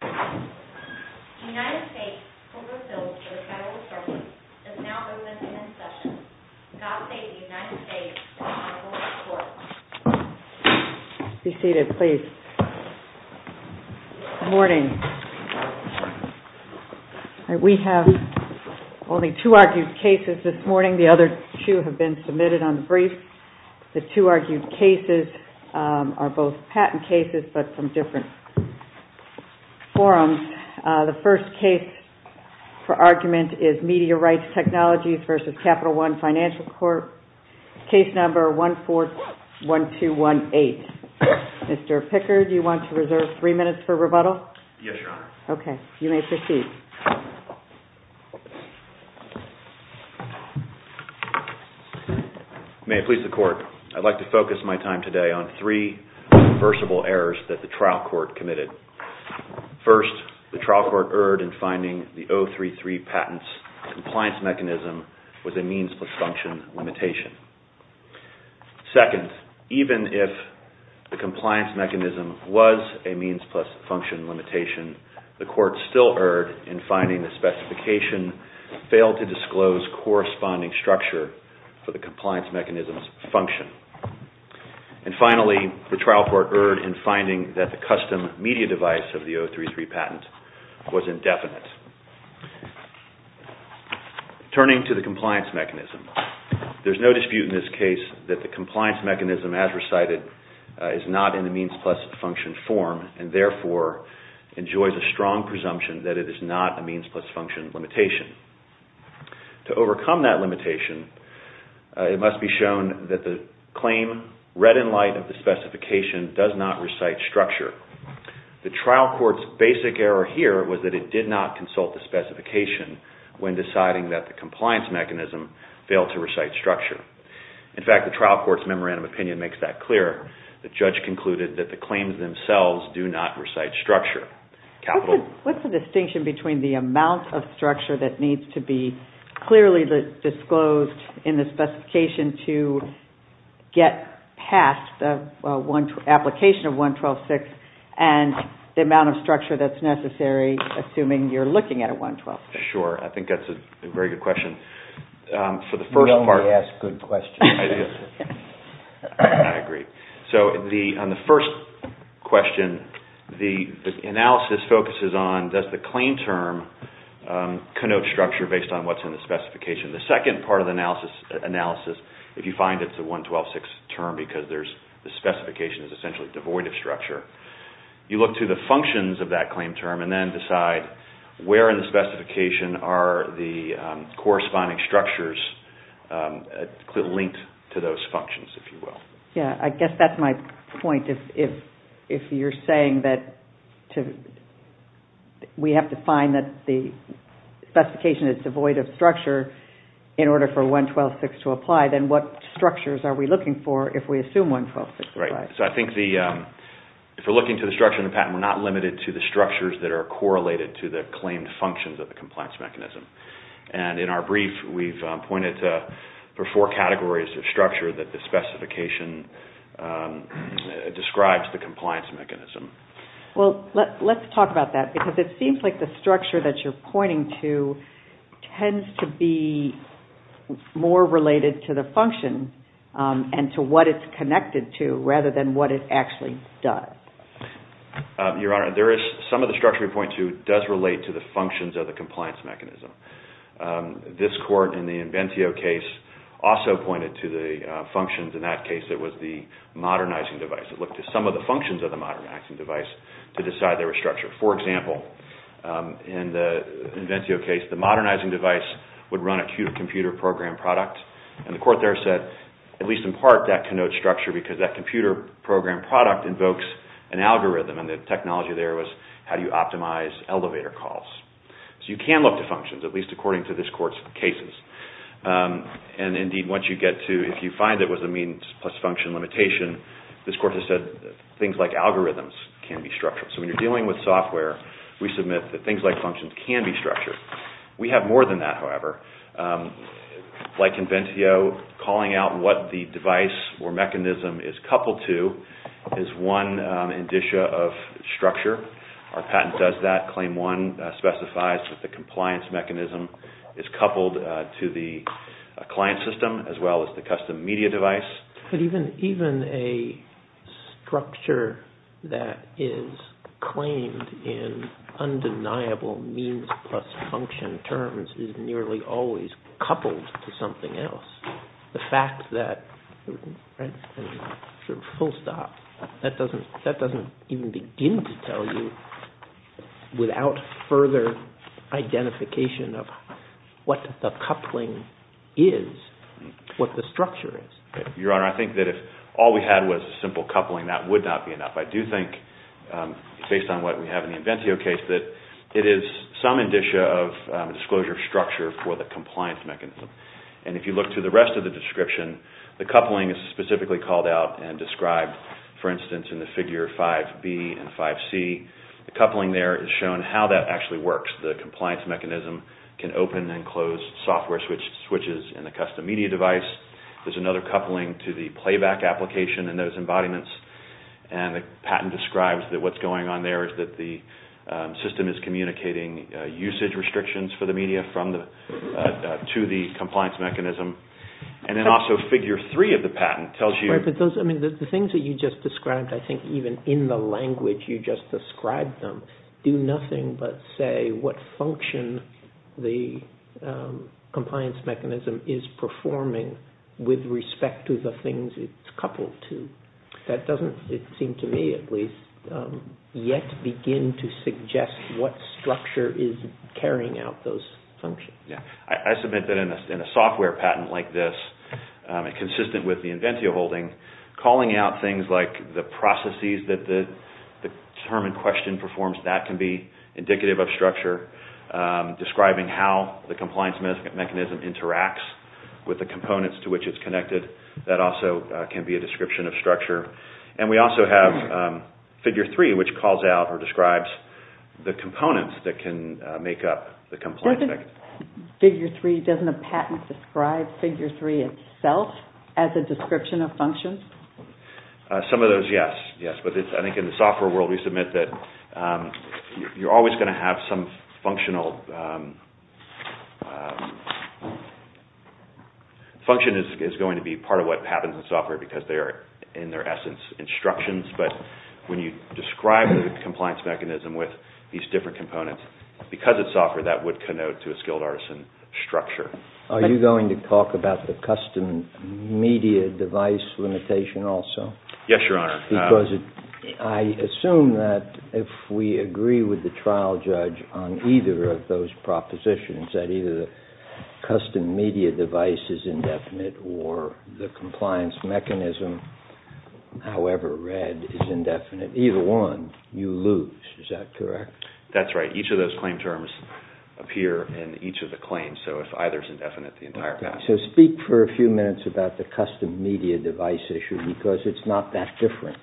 The United States overfills the Federal Service is now the witness in session. God save the United States and the Federal Court. The first case for argument is Media Rights Technologies v. Capital One Financial Corp. Case number 141218. Mr. Pickard, do you want to reserve three minutes for rebuttal? Yes, Your Honor. Okay. You may proceed. May it please the Court, I'd like to focus my time today on three reversible errors that the trial court committed. First, the trial court erred in finding the 033 patents compliance mechanism was a means plus function limitation. Second, even if the compliance mechanism was a means plus function limitation, the court still erred in finding the specification failed to disclose corresponding structure for the compliance mechanism's function. And finally, the trial court erred in finding that the custom media device of the 033 patent was indefinite. Turning to the compliance mechanism, there's no dispute in this case that the compliance mechanism as recited is not in the means plus function form and therefore enjoys a strong presumption that it is not a means plus function limitation. To overcome that limitation, it must be shown that the claim read in light of the specification does not recite structure. The trial court's basic error here was that it did not consult the specification when deciding that the compliance mechanism failed to recite structure. In fact, the trial court's memorandum of opinion makes that clear. The judge concluded that the claims themselves do not recite structure. What's the distinction between the amount of structure that needs to be clearly disclosed in the specification to get past the application of 112.6 and the amount of structure that's necessary assuming you're looking at a 112.6? Sure. I think that's a very good question. You only ask good questions. I agree. On the first question, the analysis focuses on does the claim term connote structure based on what's in the specification. The second part of the analysis, if you find it's a 112.6 term because the specification is essentially devoid of structure, you look to the functions of that claim term and then decide where in the specification are the corresponding structures linked to those functions, if you will. I guess that's my point. If you're saying that we have to find that the specification is devoid of structure in order for 112.6 to apply, then what structures are we looking for if we assume 112.6? Right. I think if we're looking to the structure in the patent, we're not limited to the structures that are correlated to the claimed functions of the compliance mechanism. In our brief, we've pointed to four categories of structure that the specification describes the compliance mechanism. Let's talk about that because it seems like the structure that you're pointing to tends to be more related to the function and to what it's connected to rather than what it actually does. Your Honor, some of the structure we point to does relate to the functions of the compliance mechanism. This court in the Inventio case also pointed to the functions. In that case, it was the modernizing device. It looked at some of the functions of the modernizing device to decide their structure. For example, in the Inventio case, the modernizing device would run a computer-programmed product. The court there said, at least in part, that connotes structure because that computer-programmed product invokes an algorithm. The technology there was how you optimize elevator calls. You can look to functions, at least according to this court's cases. Indeed, if you find it was a means plus function limitation, this court has said things like algorithms can be structured. When you're dealing with software, we submit that things like functions can be structured. We have more than that, however. Like Inventio, calling out what the device or mechanism is coupled to is one indicia of structure. Our patent does that. Claim one specifies that the compliance mechanism is coupled to the client system as well as the custom media device. But even a structure that is claimed in undeniable means plus function terms is nearly always coupled to something else. The fact that, full stop, that doesn't even begin to tell you without further identification of what the coupling is, what the structure is. Your Honor, I think that if all we had was a simple coupling, that would not be enough. I do think, based on what we have in the Inventio case, that it is some indicia of disclosure of structure for the compliance mechanism. If you look through the rest of the description, the coupling is specifically called out and described. For instance, in the figure 5B and 5C, the coupling there is shown how that actually works. The compliance mechanism can open and close software switches in the custom media device. There is another coupling to the playback application and those embodiments. And the patent describes that what is going on there is that the system is communicating usage restrictions for the media to the compliance mechanism. And then also figure 3 of the patent tells you... with respect to the things it is coupled to. That doesn't, it seems to me at least, yet begin to suggest what structure is carrying out those functions. I submit that in a software patent like this, consistent with the Inventio holding, calling out things like the processes that the term in question performs, that can be indicative of structure. Describing how the compliance mechanism interacts with the components to which it is connected. That also can be a description of structure. And we also have figure 3 which calls out or describes the components that can make up the compliance mechanism. Figure 3, doesn't the patent describe figure 3 itself as a description of functions? Some of those, yes. Yes, but I think in the software world we submit that you are always going to have some functional... Function is going to be part of what happens in software because they are in their essence instructions. But when you describe the compliance mechanism with these different components, because it is software that would connote to a skilled artisan structure. Are you going to talk about the custom media device limitation also? Yes, Your Honor. Because I assume that if we agree with the trial judge on either of those propositions, that either the custom media device is indefinite or the compliance mechanism, however read, is indefinite. Either one, you lose. Is that correct? That's right. Each of those claim terms appear in each of the claims. So if either is indefinite, the entire patent... So speak for a few minutes about the custom media device issue because it's not that different,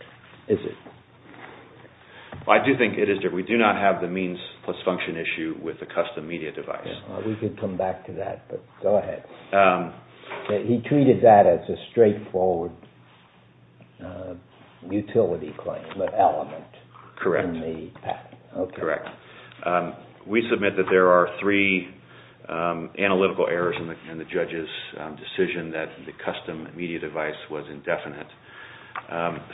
is it? I do think it is different. We do not have the means plus function issue with the custom media device. We could come back to that, but go ahead. He treated that as a straightforward utility claim element in the patent. Correct. We submit that there are three analytical errors in the judge's decision that the custom media device was indefinite.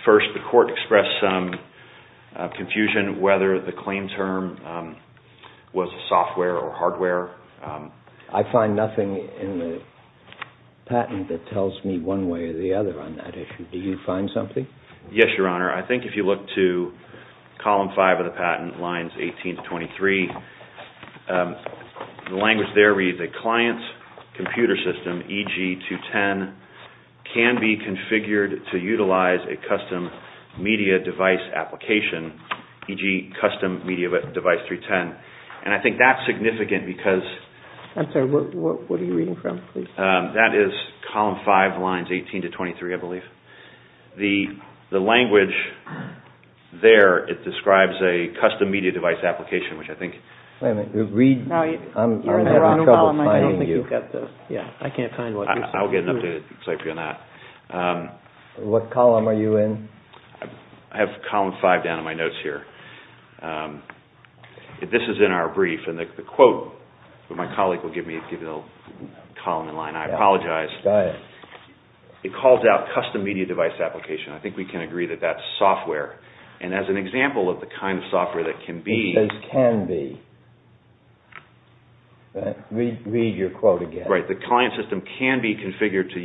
First, the court expressed some confusion whether the claim term was software or hardware. I find nothing in the patent that tells me one way or the other on that issue. Do you find something? Yes, Your Honor. I think if you look to column five of the patent, lines 18 to 23, the language there reads, a client's computer system, e.g. 210, can be configured to utilize a custom media device application, e.g. custom media device 310. And I think that's significant because... I'm sorry, what are you reading from? That is column five, lines 18 to 23, I believe. The language there, it describes a custom media device application, which I think... Wait a minute, I'm having trouble finding you. I can't find what you're saying. I'll get an update on that. What column are you in? I have column five down in my notes here. This is in our brief, and the quote that my colleague will give me, I apologize, it calls out custom media device application. I think we can agree that that's software. And as an example of the kind of software that can be... It says can be. Read your quote again. Right, the client system can be configured to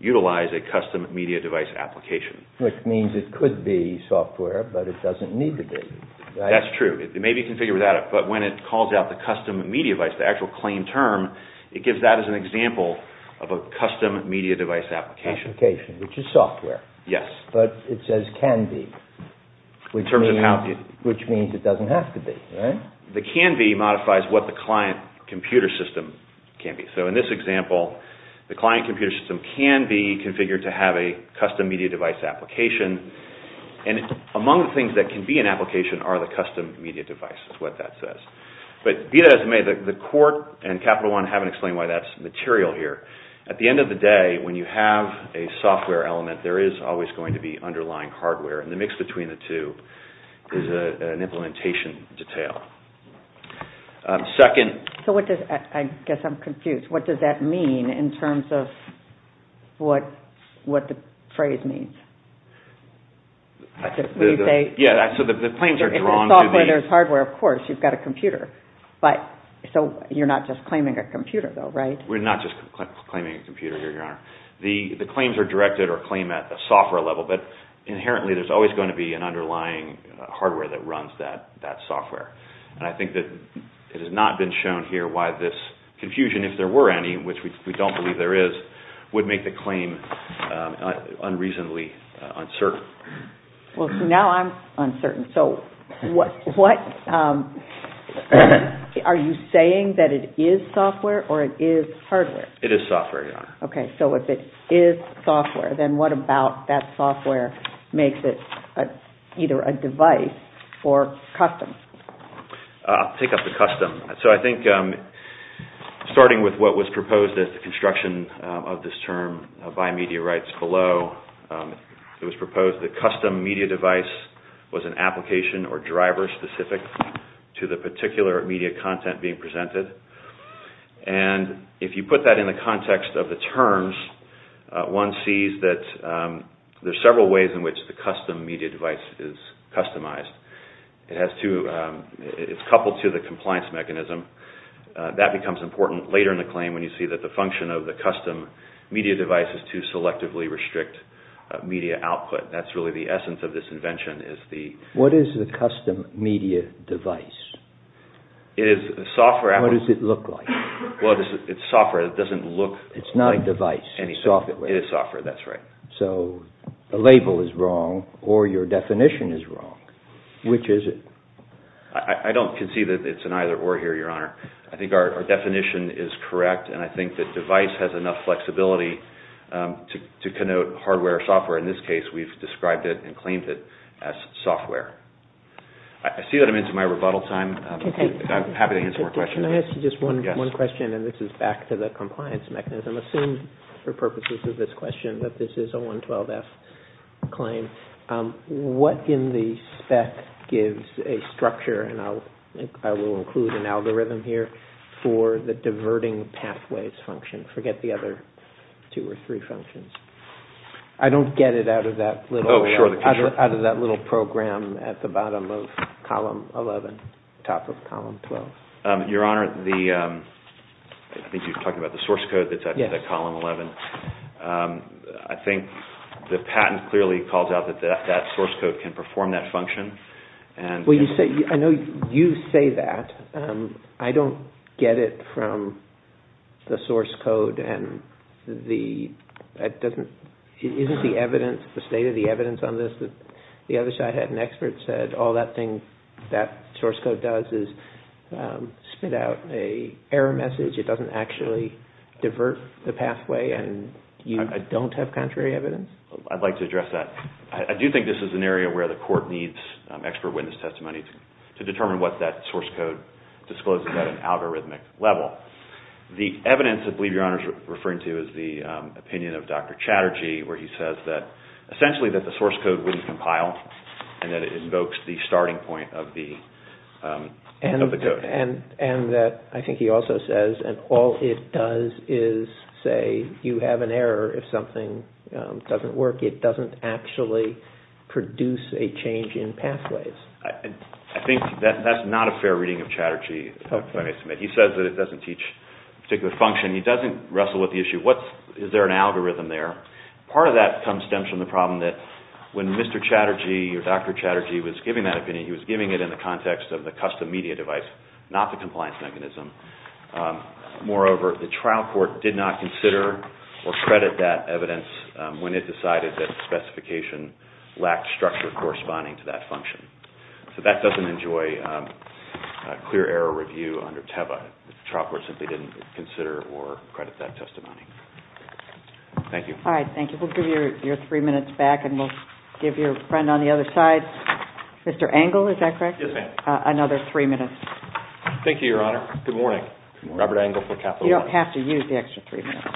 utilize a custom media device application. Which means it could be software, but it doesn't need to be. That's true. It may be configured without it, but when it calls out the custom media device, the actual claim term, it gives that as an example of a custom media device application. Application, which is software. Yes. But it says can be, which means it doesn't have to be, right? The can be modifies what the client computer system can be. So in this example, the client computer system can be configured to have a custom media device application. And among the things that can be an application are the custom media devices, what that says. But be that as it may, the court and Capital One haven't explained why that's material here. At the end of the day, when you have a software element, there is always going to be underlying hardware. And the mix between the two is an implementation detail. Second. I guess I'm confused. What does that mean in terms of what the phrase means? Yeah, so the claims are drawn. In the software, there's hardware, of course. You've got a computer. So you're not just claiming a computer, though, right? We're not just claiming a computer here, Your Honor. The claims are directed or claimed at the software level. But inherently, there's always going to be an underlying hardware that runs that software. And I think that it has not been shown here why this confusion, if there were any, which we don't believe there is, would make the claim unreasonably uncertain. Well, now I'm uncertain. So are you saying that it is software or it is hardware? It is software, Your Honor. Okay, so if it is software, then what about that software makes it either a device or custom? I'll pick up the custom. So I think starting with what was proposed as the construction of this term by Media Rights Below, it was proposed the custom media device was an application or driver specific to the particular media content being presented. And if you put that in the context of the terms, one sees that there's several ways in which the custom media device is customized. It's coupled to the compliance mechanism. That becomes important later in the claim when you see that the function of the custom media device is to selectively restrict media output. That's really the essence of this invention. What is the custom media device? It is software. What does it look like? Well, it's software. It doesn't look like anything. It's not a device. It's software. It is software. That's right. So the label is wrong or your definition is wrong. Which is it? I don't concede that it's an either or here, Your Honor. I think our definition is correct, and I think that device has enough flexibility to connote hardware or software. In this case, we've described it and claimed it as software. I see that I'm into my rebuttal time. I'm happy to answer more questions. Can I ask you just one question, and this is back to the compliance mechanism? Assume, for purposes of this question, that this is a 112F claim. What in the spec gives a structure, and I will include an algorithm here, for the diverting pathways function? Forget the other two or three functions. I don't get it out of that little program at the bottom of column 11, top of column 12. Your Honor, I think you were talking about the source code that's at column 11. I think the patent clearly calls out that that source code can perform that function. I know you say that. I don't get it from the source code. Isn't the evidence, the state of the evidence on this that the other side had an expert said, all that source code does is spit out an error message, it doesn't actually divert the pathway, and you don't have contrary evidence? I'd like to address that. I do think this is an area where the court needs expert witness testimony to determine what that source code discloses at an algorithmic level. The evidence that I believe Your Honor is referring to is the opinion of Dr. Chatterjee, where he says that essentially that the source code wouldn't compile, and that it invokes the starting point of the code. I think he also says that all it does is say you have an error if something doesn't work. It doesn't actually produce a change in pathways. I think that's not a fair reading of Chatterjee. He says that it doesn't teach a particular function. He doesn't wrestle with the issue, is there an algorithm there? Part of that stems from the problem that when Mr. Chatterjee or Dr. Chatterjee was giving that opinion, he was giving it in the context of the custom media device, not the compliance mechanism. Moreover, the trial court did not consider or credit that evidence when it decided that the specification lacked structure corresponding to that function. So that doesn't enjoy a clear error review under TEVA. The trial court simply didn't consider or credit that testimony. Thank you. All right, thank you. We'll give your three minutes back, and we'll give your friend on the other side, Mr. Engle, is that correct? Yes, ma'am. Another three minutes. Thank you, Your Honor. Good morning. Robert Engle for Capital One. You don't have to use the extra three minutes.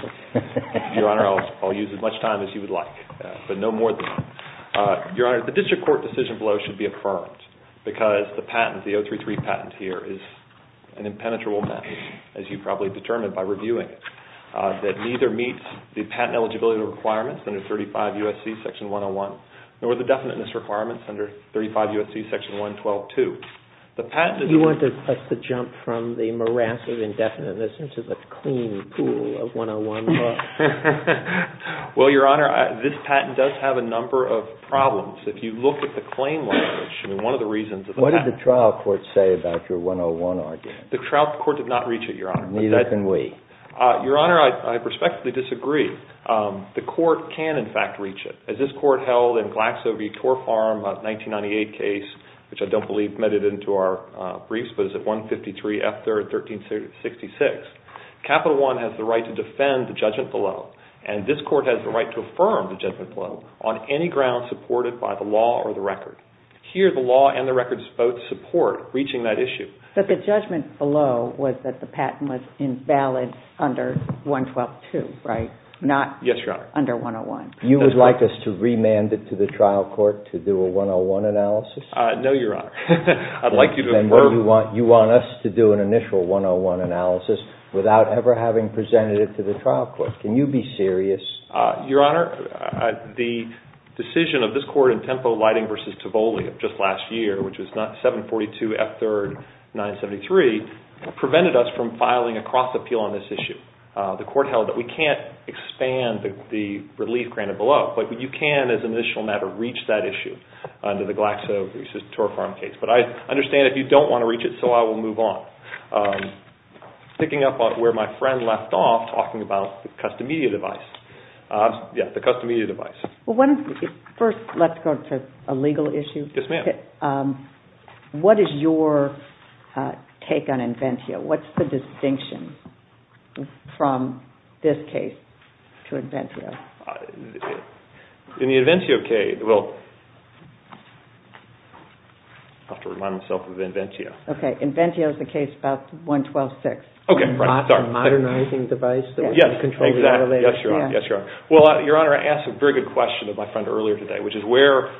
Your Honor, I'll use as much time as you would like, but no more than that. Your Honor, the district court decision below should be affirmed because the patent, the 033 patent here, is an impenetrable matter, as you probably determined by reviewing it, that neither meets the patent eligibility requirements under 35 U.S.C. Section 101, nor the definiteness requirements under 35 U.S.C. Section 112-2. You want us to jump from the morass of indefiniteness into the clean pool of 101 law? Well, Your Honor, this patent does have a number of problems. If you look at the claim language, I mean, one of the reasons that the patent What did the trial court say about your 101 argument? The trial court did not reach it, Your Honor. Neither can we. Your Honor, I respectfully disagree. The court can, in fact, reach it. As this court held in Glaxo v. Torfarm, a 1998 case, which I don't believe medded into our briefs, but it's at 153 F. 3rd, 1366. Capital One has the right to defend the judgment below, and this court has the right to affirm the judgment below on any ground supported by the law or the record. Here, the law and the records both support reaching that issue. But the judgment below was that the patent was invalid under 112-2, right? Yes, Your Honor. Not under 101. You would like us to remand it to the trial court to do a 101 analysis? No, Your Honor. I'd like you to affirm. You want us to do an initial 101 analysis without ever having presented it to the trial court. Can you be serious? Your Honor, the decision of this court in Tempo Lighting v. Tivoli just last year, which was 742 F. 3rd, 973, prevented us from filing a cross-appeal on this issue. The court held that we can't expand the relief granted below. But you can, as an initial matter, reach that issue under the Glaxo v. Torfarm case. But I understand if you don't want to reach it, so I will move on. Picking up where my friend left off, talking about the custom media device. Yes, the custom media device. First, let's go to a legal issue. Yes, ma'am. What is your take on Inventio? What's the distinction from this case to Inventio? In the Inventio case, well, I'll have to remind myself of Inventio. Okay, Inventio is the case about 112.6. Okay, right, sorry. It's a modernizing device that we can control. Yes, exactly. Yes, Your Honor. Yes, Your Honor. Well, Your Honor, I asked a very good question of my friend earlier today, which is where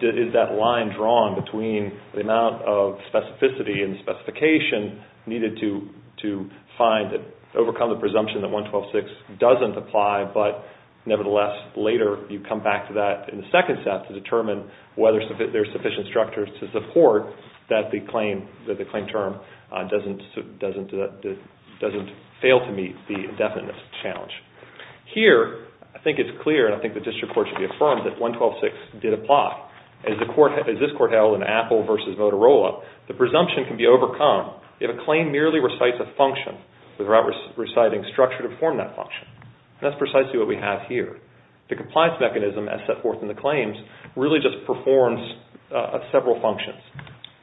is that line drawn between the amount of specificity and specification needed to find and overcome the presumption that 112.6 doesn't apply, and whether there's sufficient structure to support that the claim term doesn't fail to meet the indefiniteness challenge. Here, I think it's clear, and I think the district court should be affirmed, that 112.6 did apply. As this court held in Apple v. Motorola, the presumption can be overcome if a claim merely recites a function without reciting structure to form that function. That's precisely what we have here. The compliance mechanism, as set forth in the claims, really just performs several functions,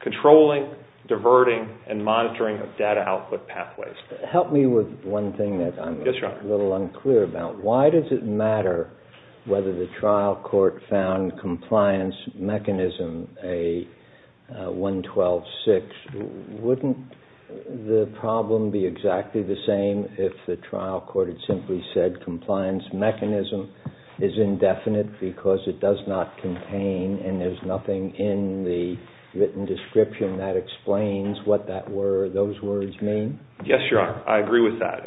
controlling, diverting, and monitoring of data output pathways. Help me with one thing that I'm a little unclear about. Yes, Your Honor. Why does it matter whether the trial court found compliance mechanism A112.6? Wouldn't the problem be exactly the same if the trial court had simply said compliance mechanism is indefinite because it does not contain, and there's nothing in the written description that explains what those words mean? Yes, Your Honor, I agree with that.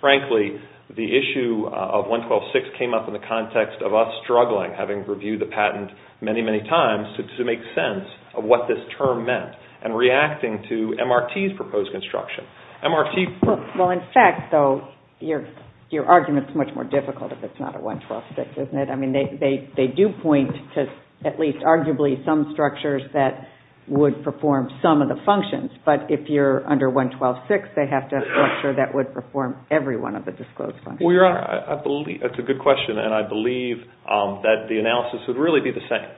Frankly, the issue of 112.6 came up in the context of us struggling, having reviewed the patent many, many times, to make sense of what this term meant and reacting to MRT's proposed construction. Well, in fact, though, your argument is much more difficult if it's not a 112.6, isn't it? I mean, they do point to at least arguably some structures that would perform some of the functions, but if you're under 112.6, they have to have a structure that would perform every one of the disclosed functions. Well, Your Honor, that's a good question, and I believe that the analysis would really be the same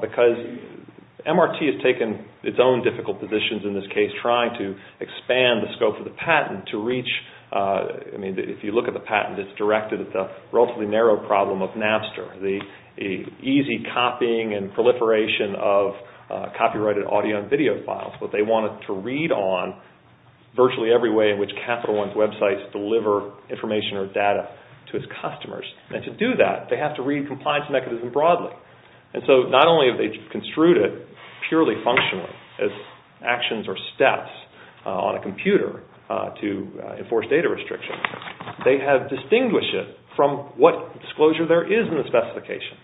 because MRT has taken its own difficult positions in this case, trying to expand the scope of the patent to reach, I mean, if you look at the patent, it's directed at the relatively narrow problem of Napster, the easy copying and proliferation of copyrighted audio and video files, what they wanted to read on virtually every way in which Capital One's websites deliver information or data to its customers. And to do that, they have to read compliance mechanism broadly. And so not only have they construed it purely functionally as actions or steps on a computer to enforce data restrictions, they have distinguished it from what disclosure there is in the specification.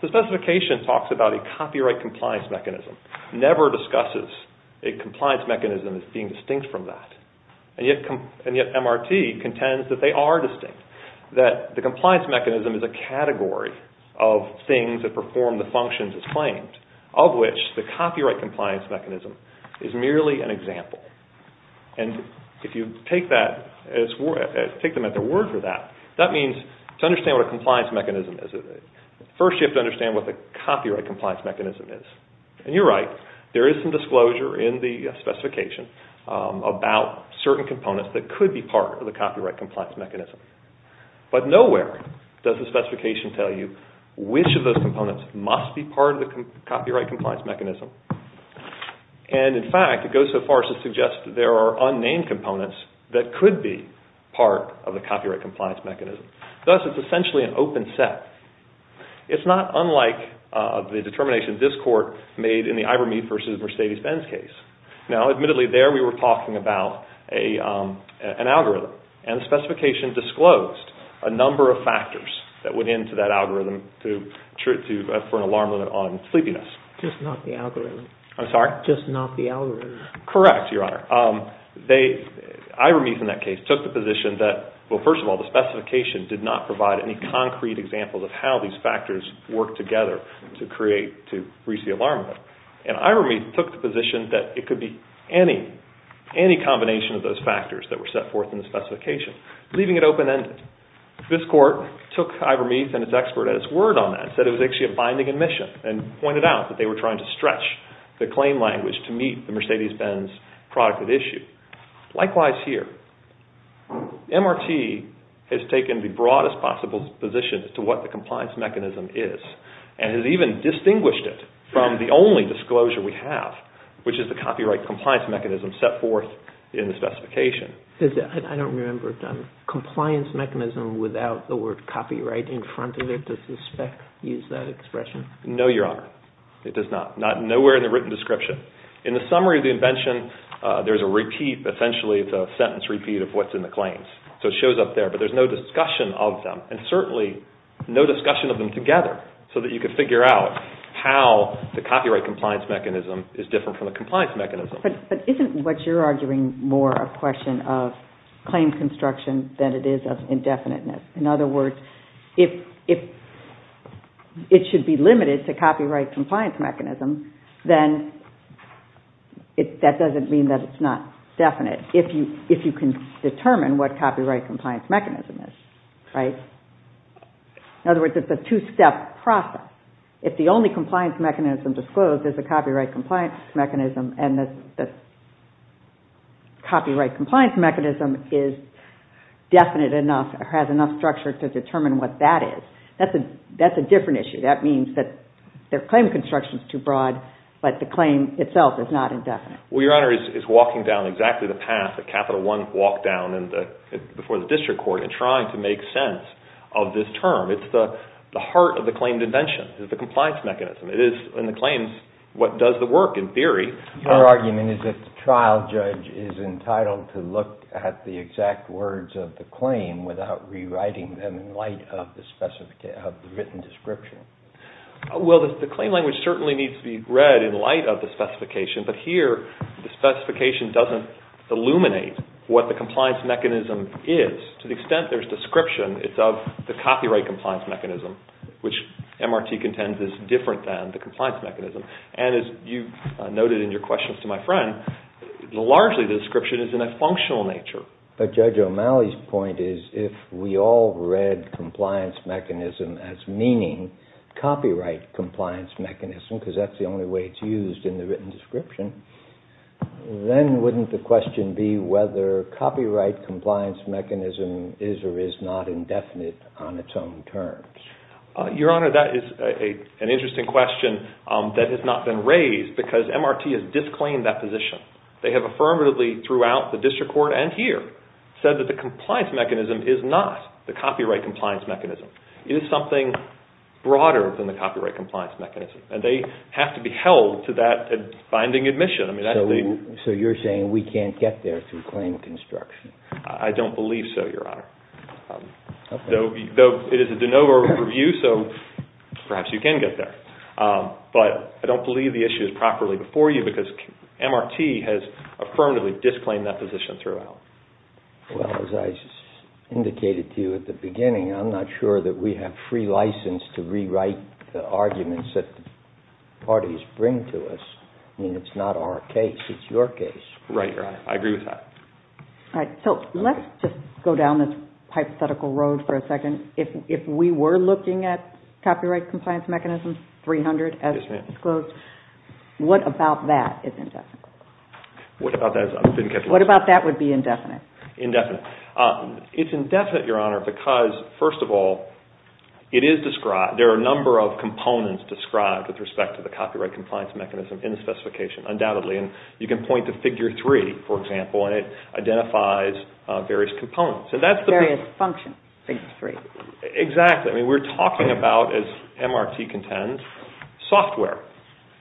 The specification talks about a copyright compliance mechanism, never discusses a compliance mechanism as being distinct from that. And yet MRT contends that they are distinct, that the compliance mechanism is a category of things that perform the functions as claimed, of which the copyright compliance mechanism is merely an example. And if you take them at their word for that, that means to understand what a compliance mechanism is, first you have to understand what the copyright compliance mechanism is. And you're right, there is some disclosure in the specification about certain components that could be part of the copyright compliance mechanism. But nowhere does the specification tell you which of those components must be part of the copyright compliance mechanism. And in fact, it goes so far as to suggest that there are unnamed components that could be part of the copyright compliance mechanism. Thus, it's essentially an open set. It's not unlike the determination this Court made in the Ivermeet v. Mercedes-Benz case. Now, admittedly, there we were talking about an algorithm, and the specification disclosed a number of factors that went into that algorithm for an alarm limit on sleepiness. Just not the algorithm. I'm sorry? Just not the algorithm. Correct, Your Honor. Ivermeet, in that case, took the position that, well, first of all, the specification did not provide any concrete examples of how these factors work together to create, to reach the alarm limit. And Ivermeet took the position that it could be any combination of those factors that were set forth in the specification, leaving it open-ended. This Court took Ivermeet and his expert at his word on that, said it was actually a binding admission, and pointed out that they were trying to stretch the claim language to meet the Mercedes-Benz product at issue. Likewise here. MRT has taken the broadest possible position as to what the compliance mechanism is, and has even distinguished it from the only disclosure we have, which is the copyright compliance mechanism set forth in the specification. I don't remember, John, compliance mechanism without the word copyright in front of it. Does the spec use that expression? No, Your Honor. It does not. Nowhere in the written description. In the summary of the invention, there's a repeat, essentially it's a sentence repeat of what's in the claims. So it shows up there, but there's no discussion of them, and certainly no discussion of them together, so that you can figure out how the copyright compliance mechanism is different from the compliance mechanism. But isn't what you're arguing more a question of claim construction than it is of indefiniteness? In other words, if it should be limited to copyright compliance mechanism, then that doesn't mean that it's not definite, if you can determine what copyright compliance mechanism is, right? In other words, it's a two-step process. If the only compliance mechanism disclosed is the copyright compliance mechanism and the copyright compliance mechanism is definite enough, has enough structure to determine what that is, that's a different issue. That means that their claim construction is too broad, but the claim itself is not indefinite. Well, Your Honor, it's walking down exactly the path that Capital One walked down before the district court in trying to make sense of this term. It's the heart of the claimed invention. It's the compliance mechanism. It is, in the claims, what does the work in theory. Your argument is that the trial judge is entitled to look at the exact words of the claim without rewriting them in light of the written description. Well, the claim language certainly needs to be read in light of the specification, but here the specification doesn't illuminate what the compliance mechanism is. To the extent there's description, it's of the copyright compliance mechanism, which MRT contends is different than the compliance mechanism. And as you noted in your questions to my friend, largely the description is in a functional nature. But Judge O'Malley's point is if we all read compliance mechanism as meaning copyright compliance mechanism, because that's the only way it's used in the written description, then wouldn't the question be whether copyright compliance mechanism is or is not indefinite on its own terms? Your Honor, that is an interesting question that has not been raised because MRT has disclaimed that position. They have affirmatively throughout the district court and here said that the compliance mechanism is not the copyright compliance mechanism. It is something broader than the copyright compliance mechanism, and they have to be held to that binding admission. So you're saying we can't get there through claim construction? I don't believe so, Your Honor. Though it is a de novo review, so perhaps you can get there. But I don't believe the issue is properly before you because MRT has affirmatively disclaimed that position throughout. Well, as I indicated to you at the beginning, I'm not sure that we have free license to rewrite the arguments that the parties bring to us. I mean, it's not our case. It's your case. Right, Your Honor. I agree with that. All right. So let's just go down this hypothetical road for a second. If we were looking at copyright compliance mechanism 300 as disclosed, what about that is indefinite? What about that would be indefinite? Indefinite. It's indefinite, Your Honor, because first of all, it is described, there are a number of components described with respect to the copyright compliance mechanism in the specification, undoubtedly, and you can point to Figure 3, for example, and it identifies various components. Various functions, Figure 3. Exactly. I mean, we're talking about, as MRT contends, software.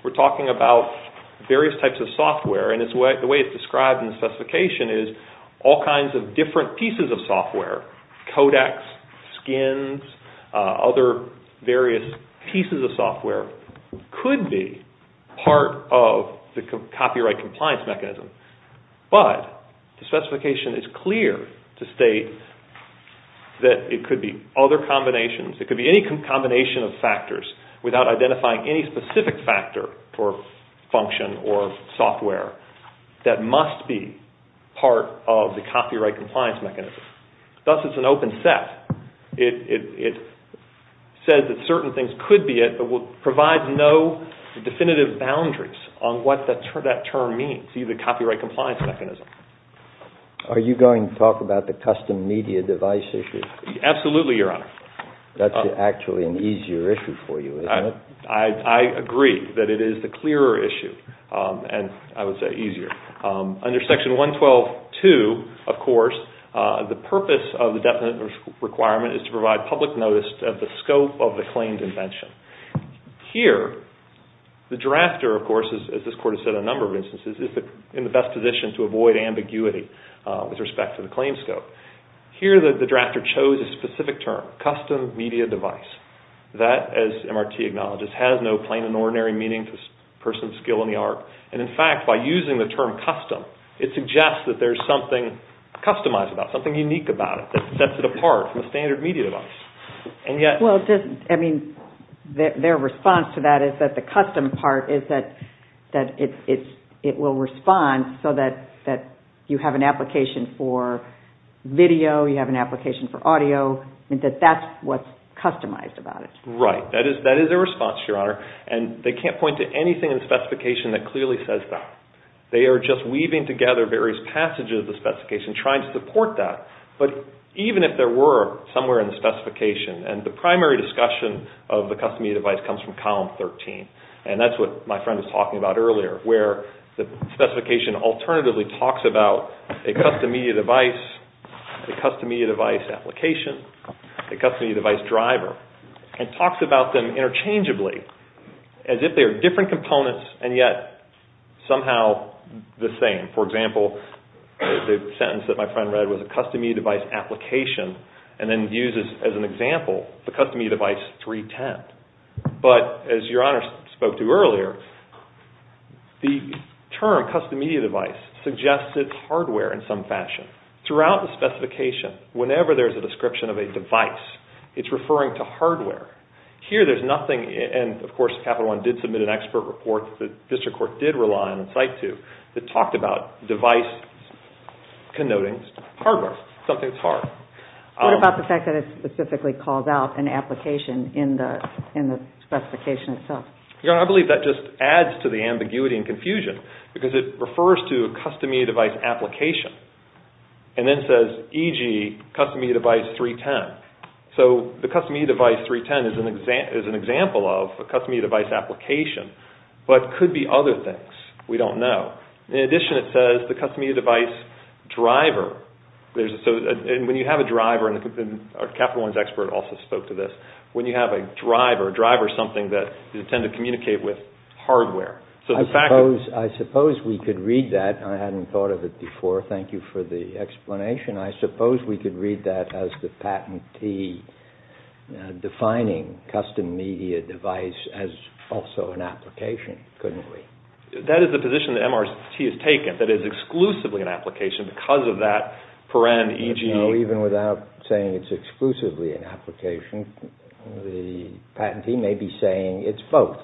We're talking about various types of software, and the way it's described in the specification is all kinds of different pieces of software, codecs, skins, other various pieces of software, could be part of the copyright compliance mechanism. But the specification is clear to state that it could be other combinations, it could be any combination of factors, without identifying any specific factor for function or software that must be part of the copyright compliance mechanism. Thus, it's an open set. It says that certain things could be it, but will provide no definitive boundaries on what that term means, if you see the copyright compliance mechanism. Are you going to talk about the custom media device issue? Absolutely, Your Honor. That's actually an easier issue for you, isn't it? I agree that it is the clearer issue, and I would say easier. Under Section 112.2, of course, the purpose of the definite requirement is to provide public notice of the scope of the claimed invention. Here, the drafter, of course, as this Court has said in a number of instances, is in the best position to avoid ambiguity with respect to the claim scope. Here, the drafter chose a specific term, custom media device. That, as MRT acknowledges, has no plain and ordinary meaning to the person's skill in the art, and in fact, by using the term custom, it suggests that there's something customized about it, something unique about it that sets it apart from a standard media device. Well, I mean, their response to that is that the custom part is that it will respond so that you have an application for video, you have an application for audio, and that that's what's customized about it. Right. That is their response, Your Honor. And they can't point to anything in the specification that clearly says that. They are just weaving together various passages of the specification trying to support that. But even if there were somewhere in the specification, and the primary discussion of the custom media device comes from Column 13, and that's what my friend was talking about earlier, where the specification alternatively talks about a custom media device, a custom media device application, a custom media device driver, and talks about them interchangeably as if they are different components and yet somehow the same. For example, the sentence that my friend read was a custom media device application and then uses as an example the custom media device 310. But as Your Honor spoke to earlier, the term custom media device suggests it's hardware in some fashion. Throughout the specification, whenever there's a description of a device, it's referring to hardware. Here there's nothing, and of course Capital One did submit an expert report that the district court did rely on and cite to, that talked about device connoting hardware, something that's hard. What about the fact that it specifically calls out an application in the specification itself? Your Honor, I believe that just adds to the ambiguity and confusion because it refers to a custom media device application and then says, e.g., custom media device 310. So the custom media device 310 is an example of a custom media device application, but could be other things. We don't know. In addition, it says the custom media device driver, and when you have a driver, and Capital One's expert also spoke to this, when you have a driver, a driver is something that you tend to communicate with hardware. I suppose we could read that. I hadn't thought of it before. Thank you for the explanation. I suppose we could read that as the patentee defining custom media device as also an application, couldn't we? That is the position that MRT has taken, that it's exclusively an application because of that paren, e.g. No, even without saying it's exclusively an application, the patentee may be saying it's both.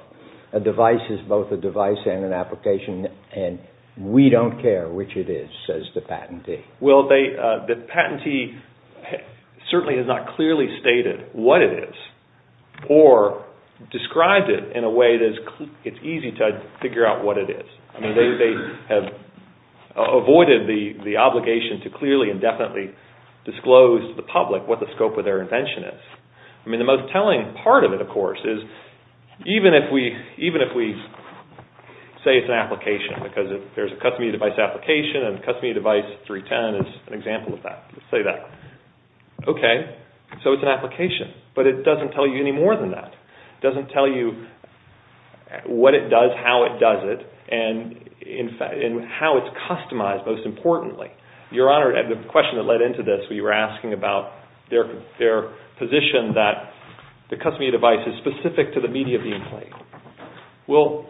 A device is both a device and an application, and we don't care which it is, says the patentee. The patentee certainly has not clearly stated what it is, or described it in a way that it's easy to figure out what it is. They have avoided the obligation to clearly and definitely disclose to the public what the scope of their invention is. The most telling part of it, of course, is even if we say it's an application, because there's a custom media device application, and custom media device 310 is an example of that. Let's say that. Okay, so it's an application. But it doesn't tell you any more than that. It doesn't tell you what it does, how it does it, and how it's customized, most importantly. Your Honor, the question that led into this, we were asking about their position that the custom media device is specific to the media being played. Well,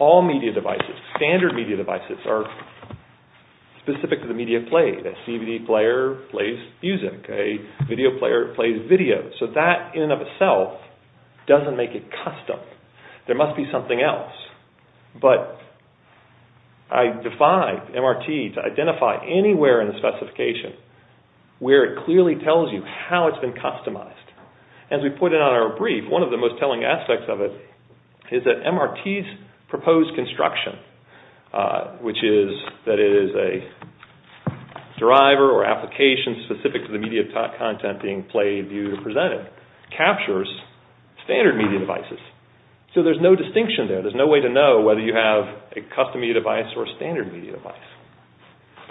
all media devices, standard media devices, are specific to the media played. A DVD player plays music. A video player plays video. So that in and of itself doesn't make it custom. There must be something else. But I defied MRT to identify anywhere in the specification where it clearly tells you how it's been customized. As we put it on our brief, one of the most telling aspects of it is that MRT's proposed construction, which is that it is a driver or application specific to the media content being played, viewed, or presented, captures standard media devices. So there's no distinction there. There's no way to know whether you have a custom media device or a standard media device.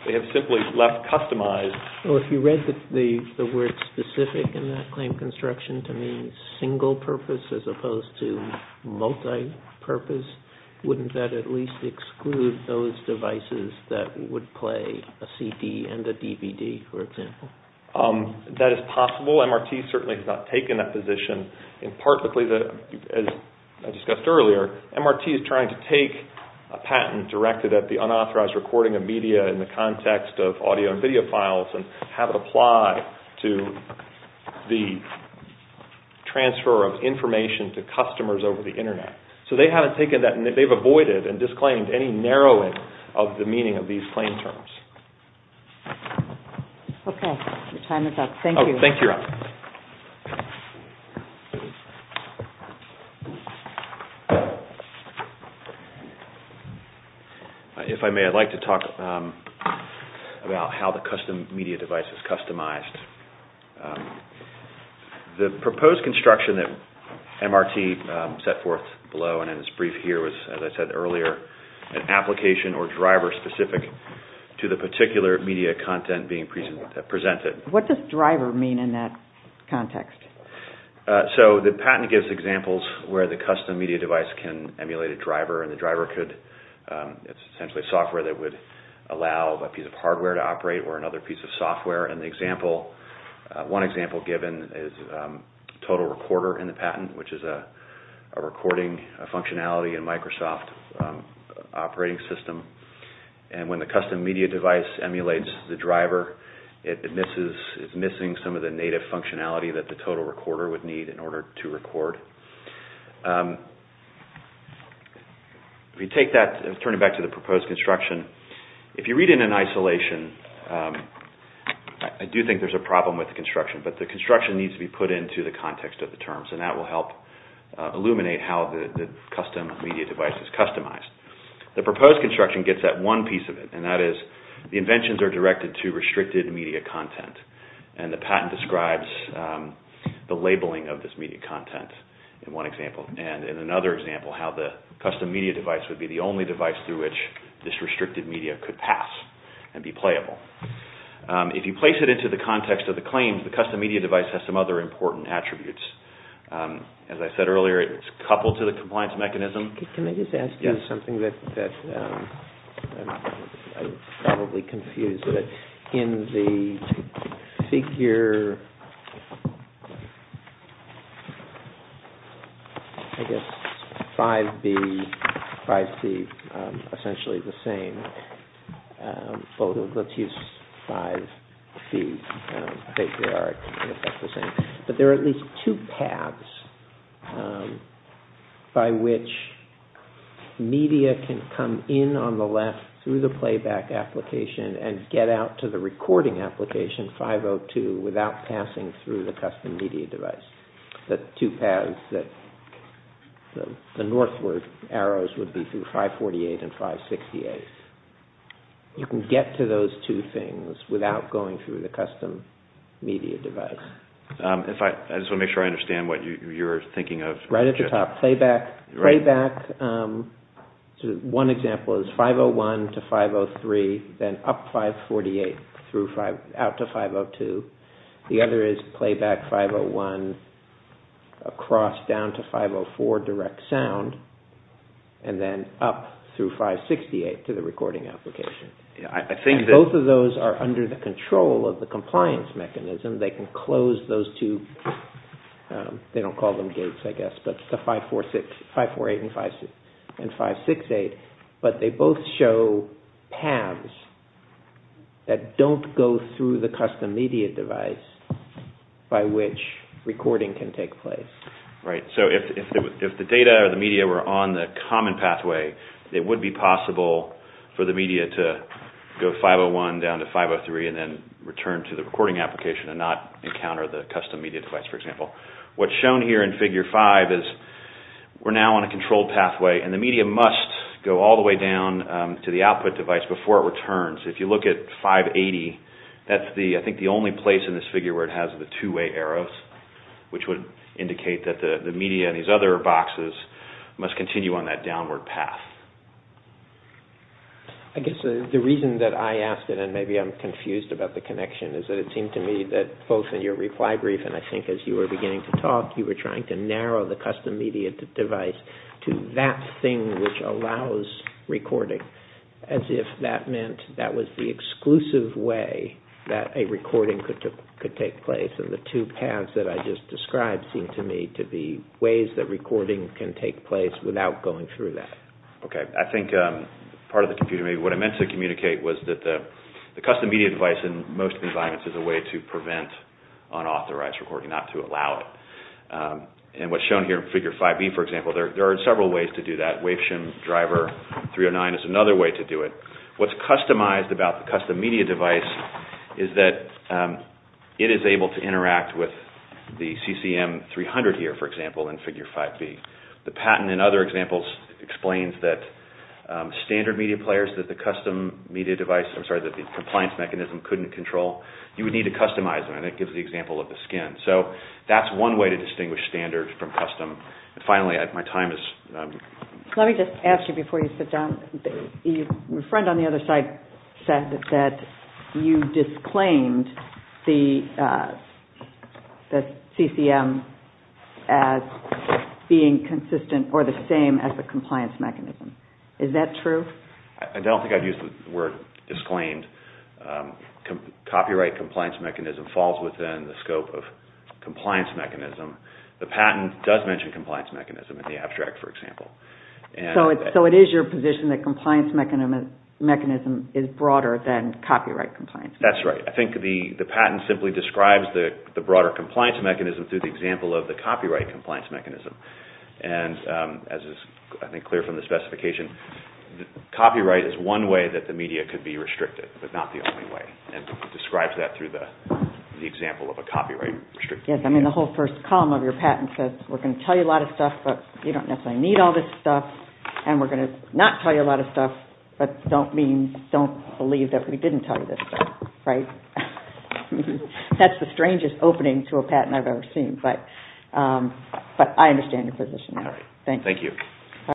They have simply left customized. Well, if you read the word specific in that claim construction to mean single purpose as opposed to multi-purpose, wouldn't that at least exclude those devices that would play a CD and a DVD, for example? That is possible. MRT certainly has not taken that position. In part, as I discussed earlier, MRT is trying to take a patent directed at the unauthorized recording of media in the context of audio and video files and have it apply to the transfer of information to customers over the Internet. So they haven't taken that, and they've avoided and disclaimed any narrowing of the meaning of these claim terms. Okay. Your time is up. Thank you. Thank you, Robyn. If I may, I'd like to talk about how the custom media device is customized. The proposed construction that MRT set forth below and in this brief here was, as I said earlier, an application or driver specific to the particular media content being presented. What does driver mean in that case? The patent gives examples where the custom media device can emulate a driver, and the driver is essentially software that would allow a piece of hardware to operate or another piece of software. One example given is Total Recorder in the patent, which is a recording functionality in Microsoft operating system. When the custom media device emulates the driver, it's missing some of the native functionality that the Total Recorder would need in order to record. We take that and turn it back to the proposed construction. If you read it in isolation, I do think there's a problem with the construction, but the construction needs to be put into the context of the terms, and that will help illuminate how the custom media device is customized. The proposed construction gets that one piece of it, and that is the inventions are directed to restricted media content, and the patent describes the labeling of this media content in one example, and in another example how the custom media device would be the only device through which this restricted media could pass and be playable. If you place it into the context of the claims, the custom media device has some other important attributes. As I said earlier, it's coupled to the compliance mechanism. Can I just ask you something that I'm probably confused with? In the figure 5B, 5C, essentially the same, let's use 5C, but there are at least two paths by which media can come in on the left through the playback application and get out to the recording application, 502, without passing through the custom media device. The two paths, the northward arrows would be through 548 and 568. You can get to those two things without going through the custom media device. I just want to make sure I understand what you're thinking of. Right at the top, playback. One example is 501 to 503, then up 548 out to 502. The other is playback 501 across down to 504 direct sound, and then up through 568 to the recording application. Both of those are under the control of the compliance mechanism. They can close those two, they don't call them gates I guess, but the 548 and 568, but they both show paths that don't go through the custom media device by which recording can take place. Right, so if the data or the media were on the common pathway, it would be possible for the media to go 501 down to 503 and then return to the recording application and not encounter the custom media device, for example. What's shown here in Figure 5 is we're now on a controlled pathway and the media must go all the way down to the output device before it returns. If you look at 580, that's I think the only place in this figure where it has the two-way arrows, which would indicate that the media in these other boxes must continue on that downward path. I guess the reason that I asked it, and maybe I'm confused about the connection, is that it seemed to me that both in your reply brief, and I think as you were beginning to talk, you were trying to narrow the custom media device to that thing which allows recording, as if that meant that was the exclusive way that a recording could take place. And the two paths that I just described seem to me to be ways that recording can take place without going through that. Okay, I think part of what I meant to communicate was that the custom media device in most environments is a way to prevent unauthorized recording, not to allow it. And what's shown here in Figure 5e, for example, there are several ways to do that. WaveShim Driver 309 is another way to do it. What's customized about the custom media device is that it is able to interact with the CCM300 here, for example, in Figure 5b. The patent in other examples explains that standard media players, that the compliance mechanism couldn't control, you would need to customize them, and it gives the example of the skin. So that's one way to distinguish standard from custom. And finally, my time is... Let me just ask you before you sit down. Your friend on the other side said that you disclaimed the CCM as being consistent or the same as the compliance mechanism. Is that true? I don't think I've used the word disclaimed. Copyright compliance mechanism falls within the scope of compliance mechanism. The patent does mention compliance mechanism in the abstract, for example. So it is your position that compliance mechanism is broader than copyright compliance mechanism? That's right. I think the patent simply describes the broader compliance mechanism through the example of the copyright compliance mechanism. And as is, I think, clear from the specification, copyright is one way that the media could be restricted, but not the only way. It describes that through the example of a copyright restriction. Yes, I mean, the whole first column of your patent says, we're going to tell you a lot of stuff, but you don't necessarily need all this stuff, and we're going to not tell you a lot of stuff, but don't believe that we didn't tell you this stuff. That's the strangest opening to a patent I've ever seen, but I understand your position. Thank you. Thank you.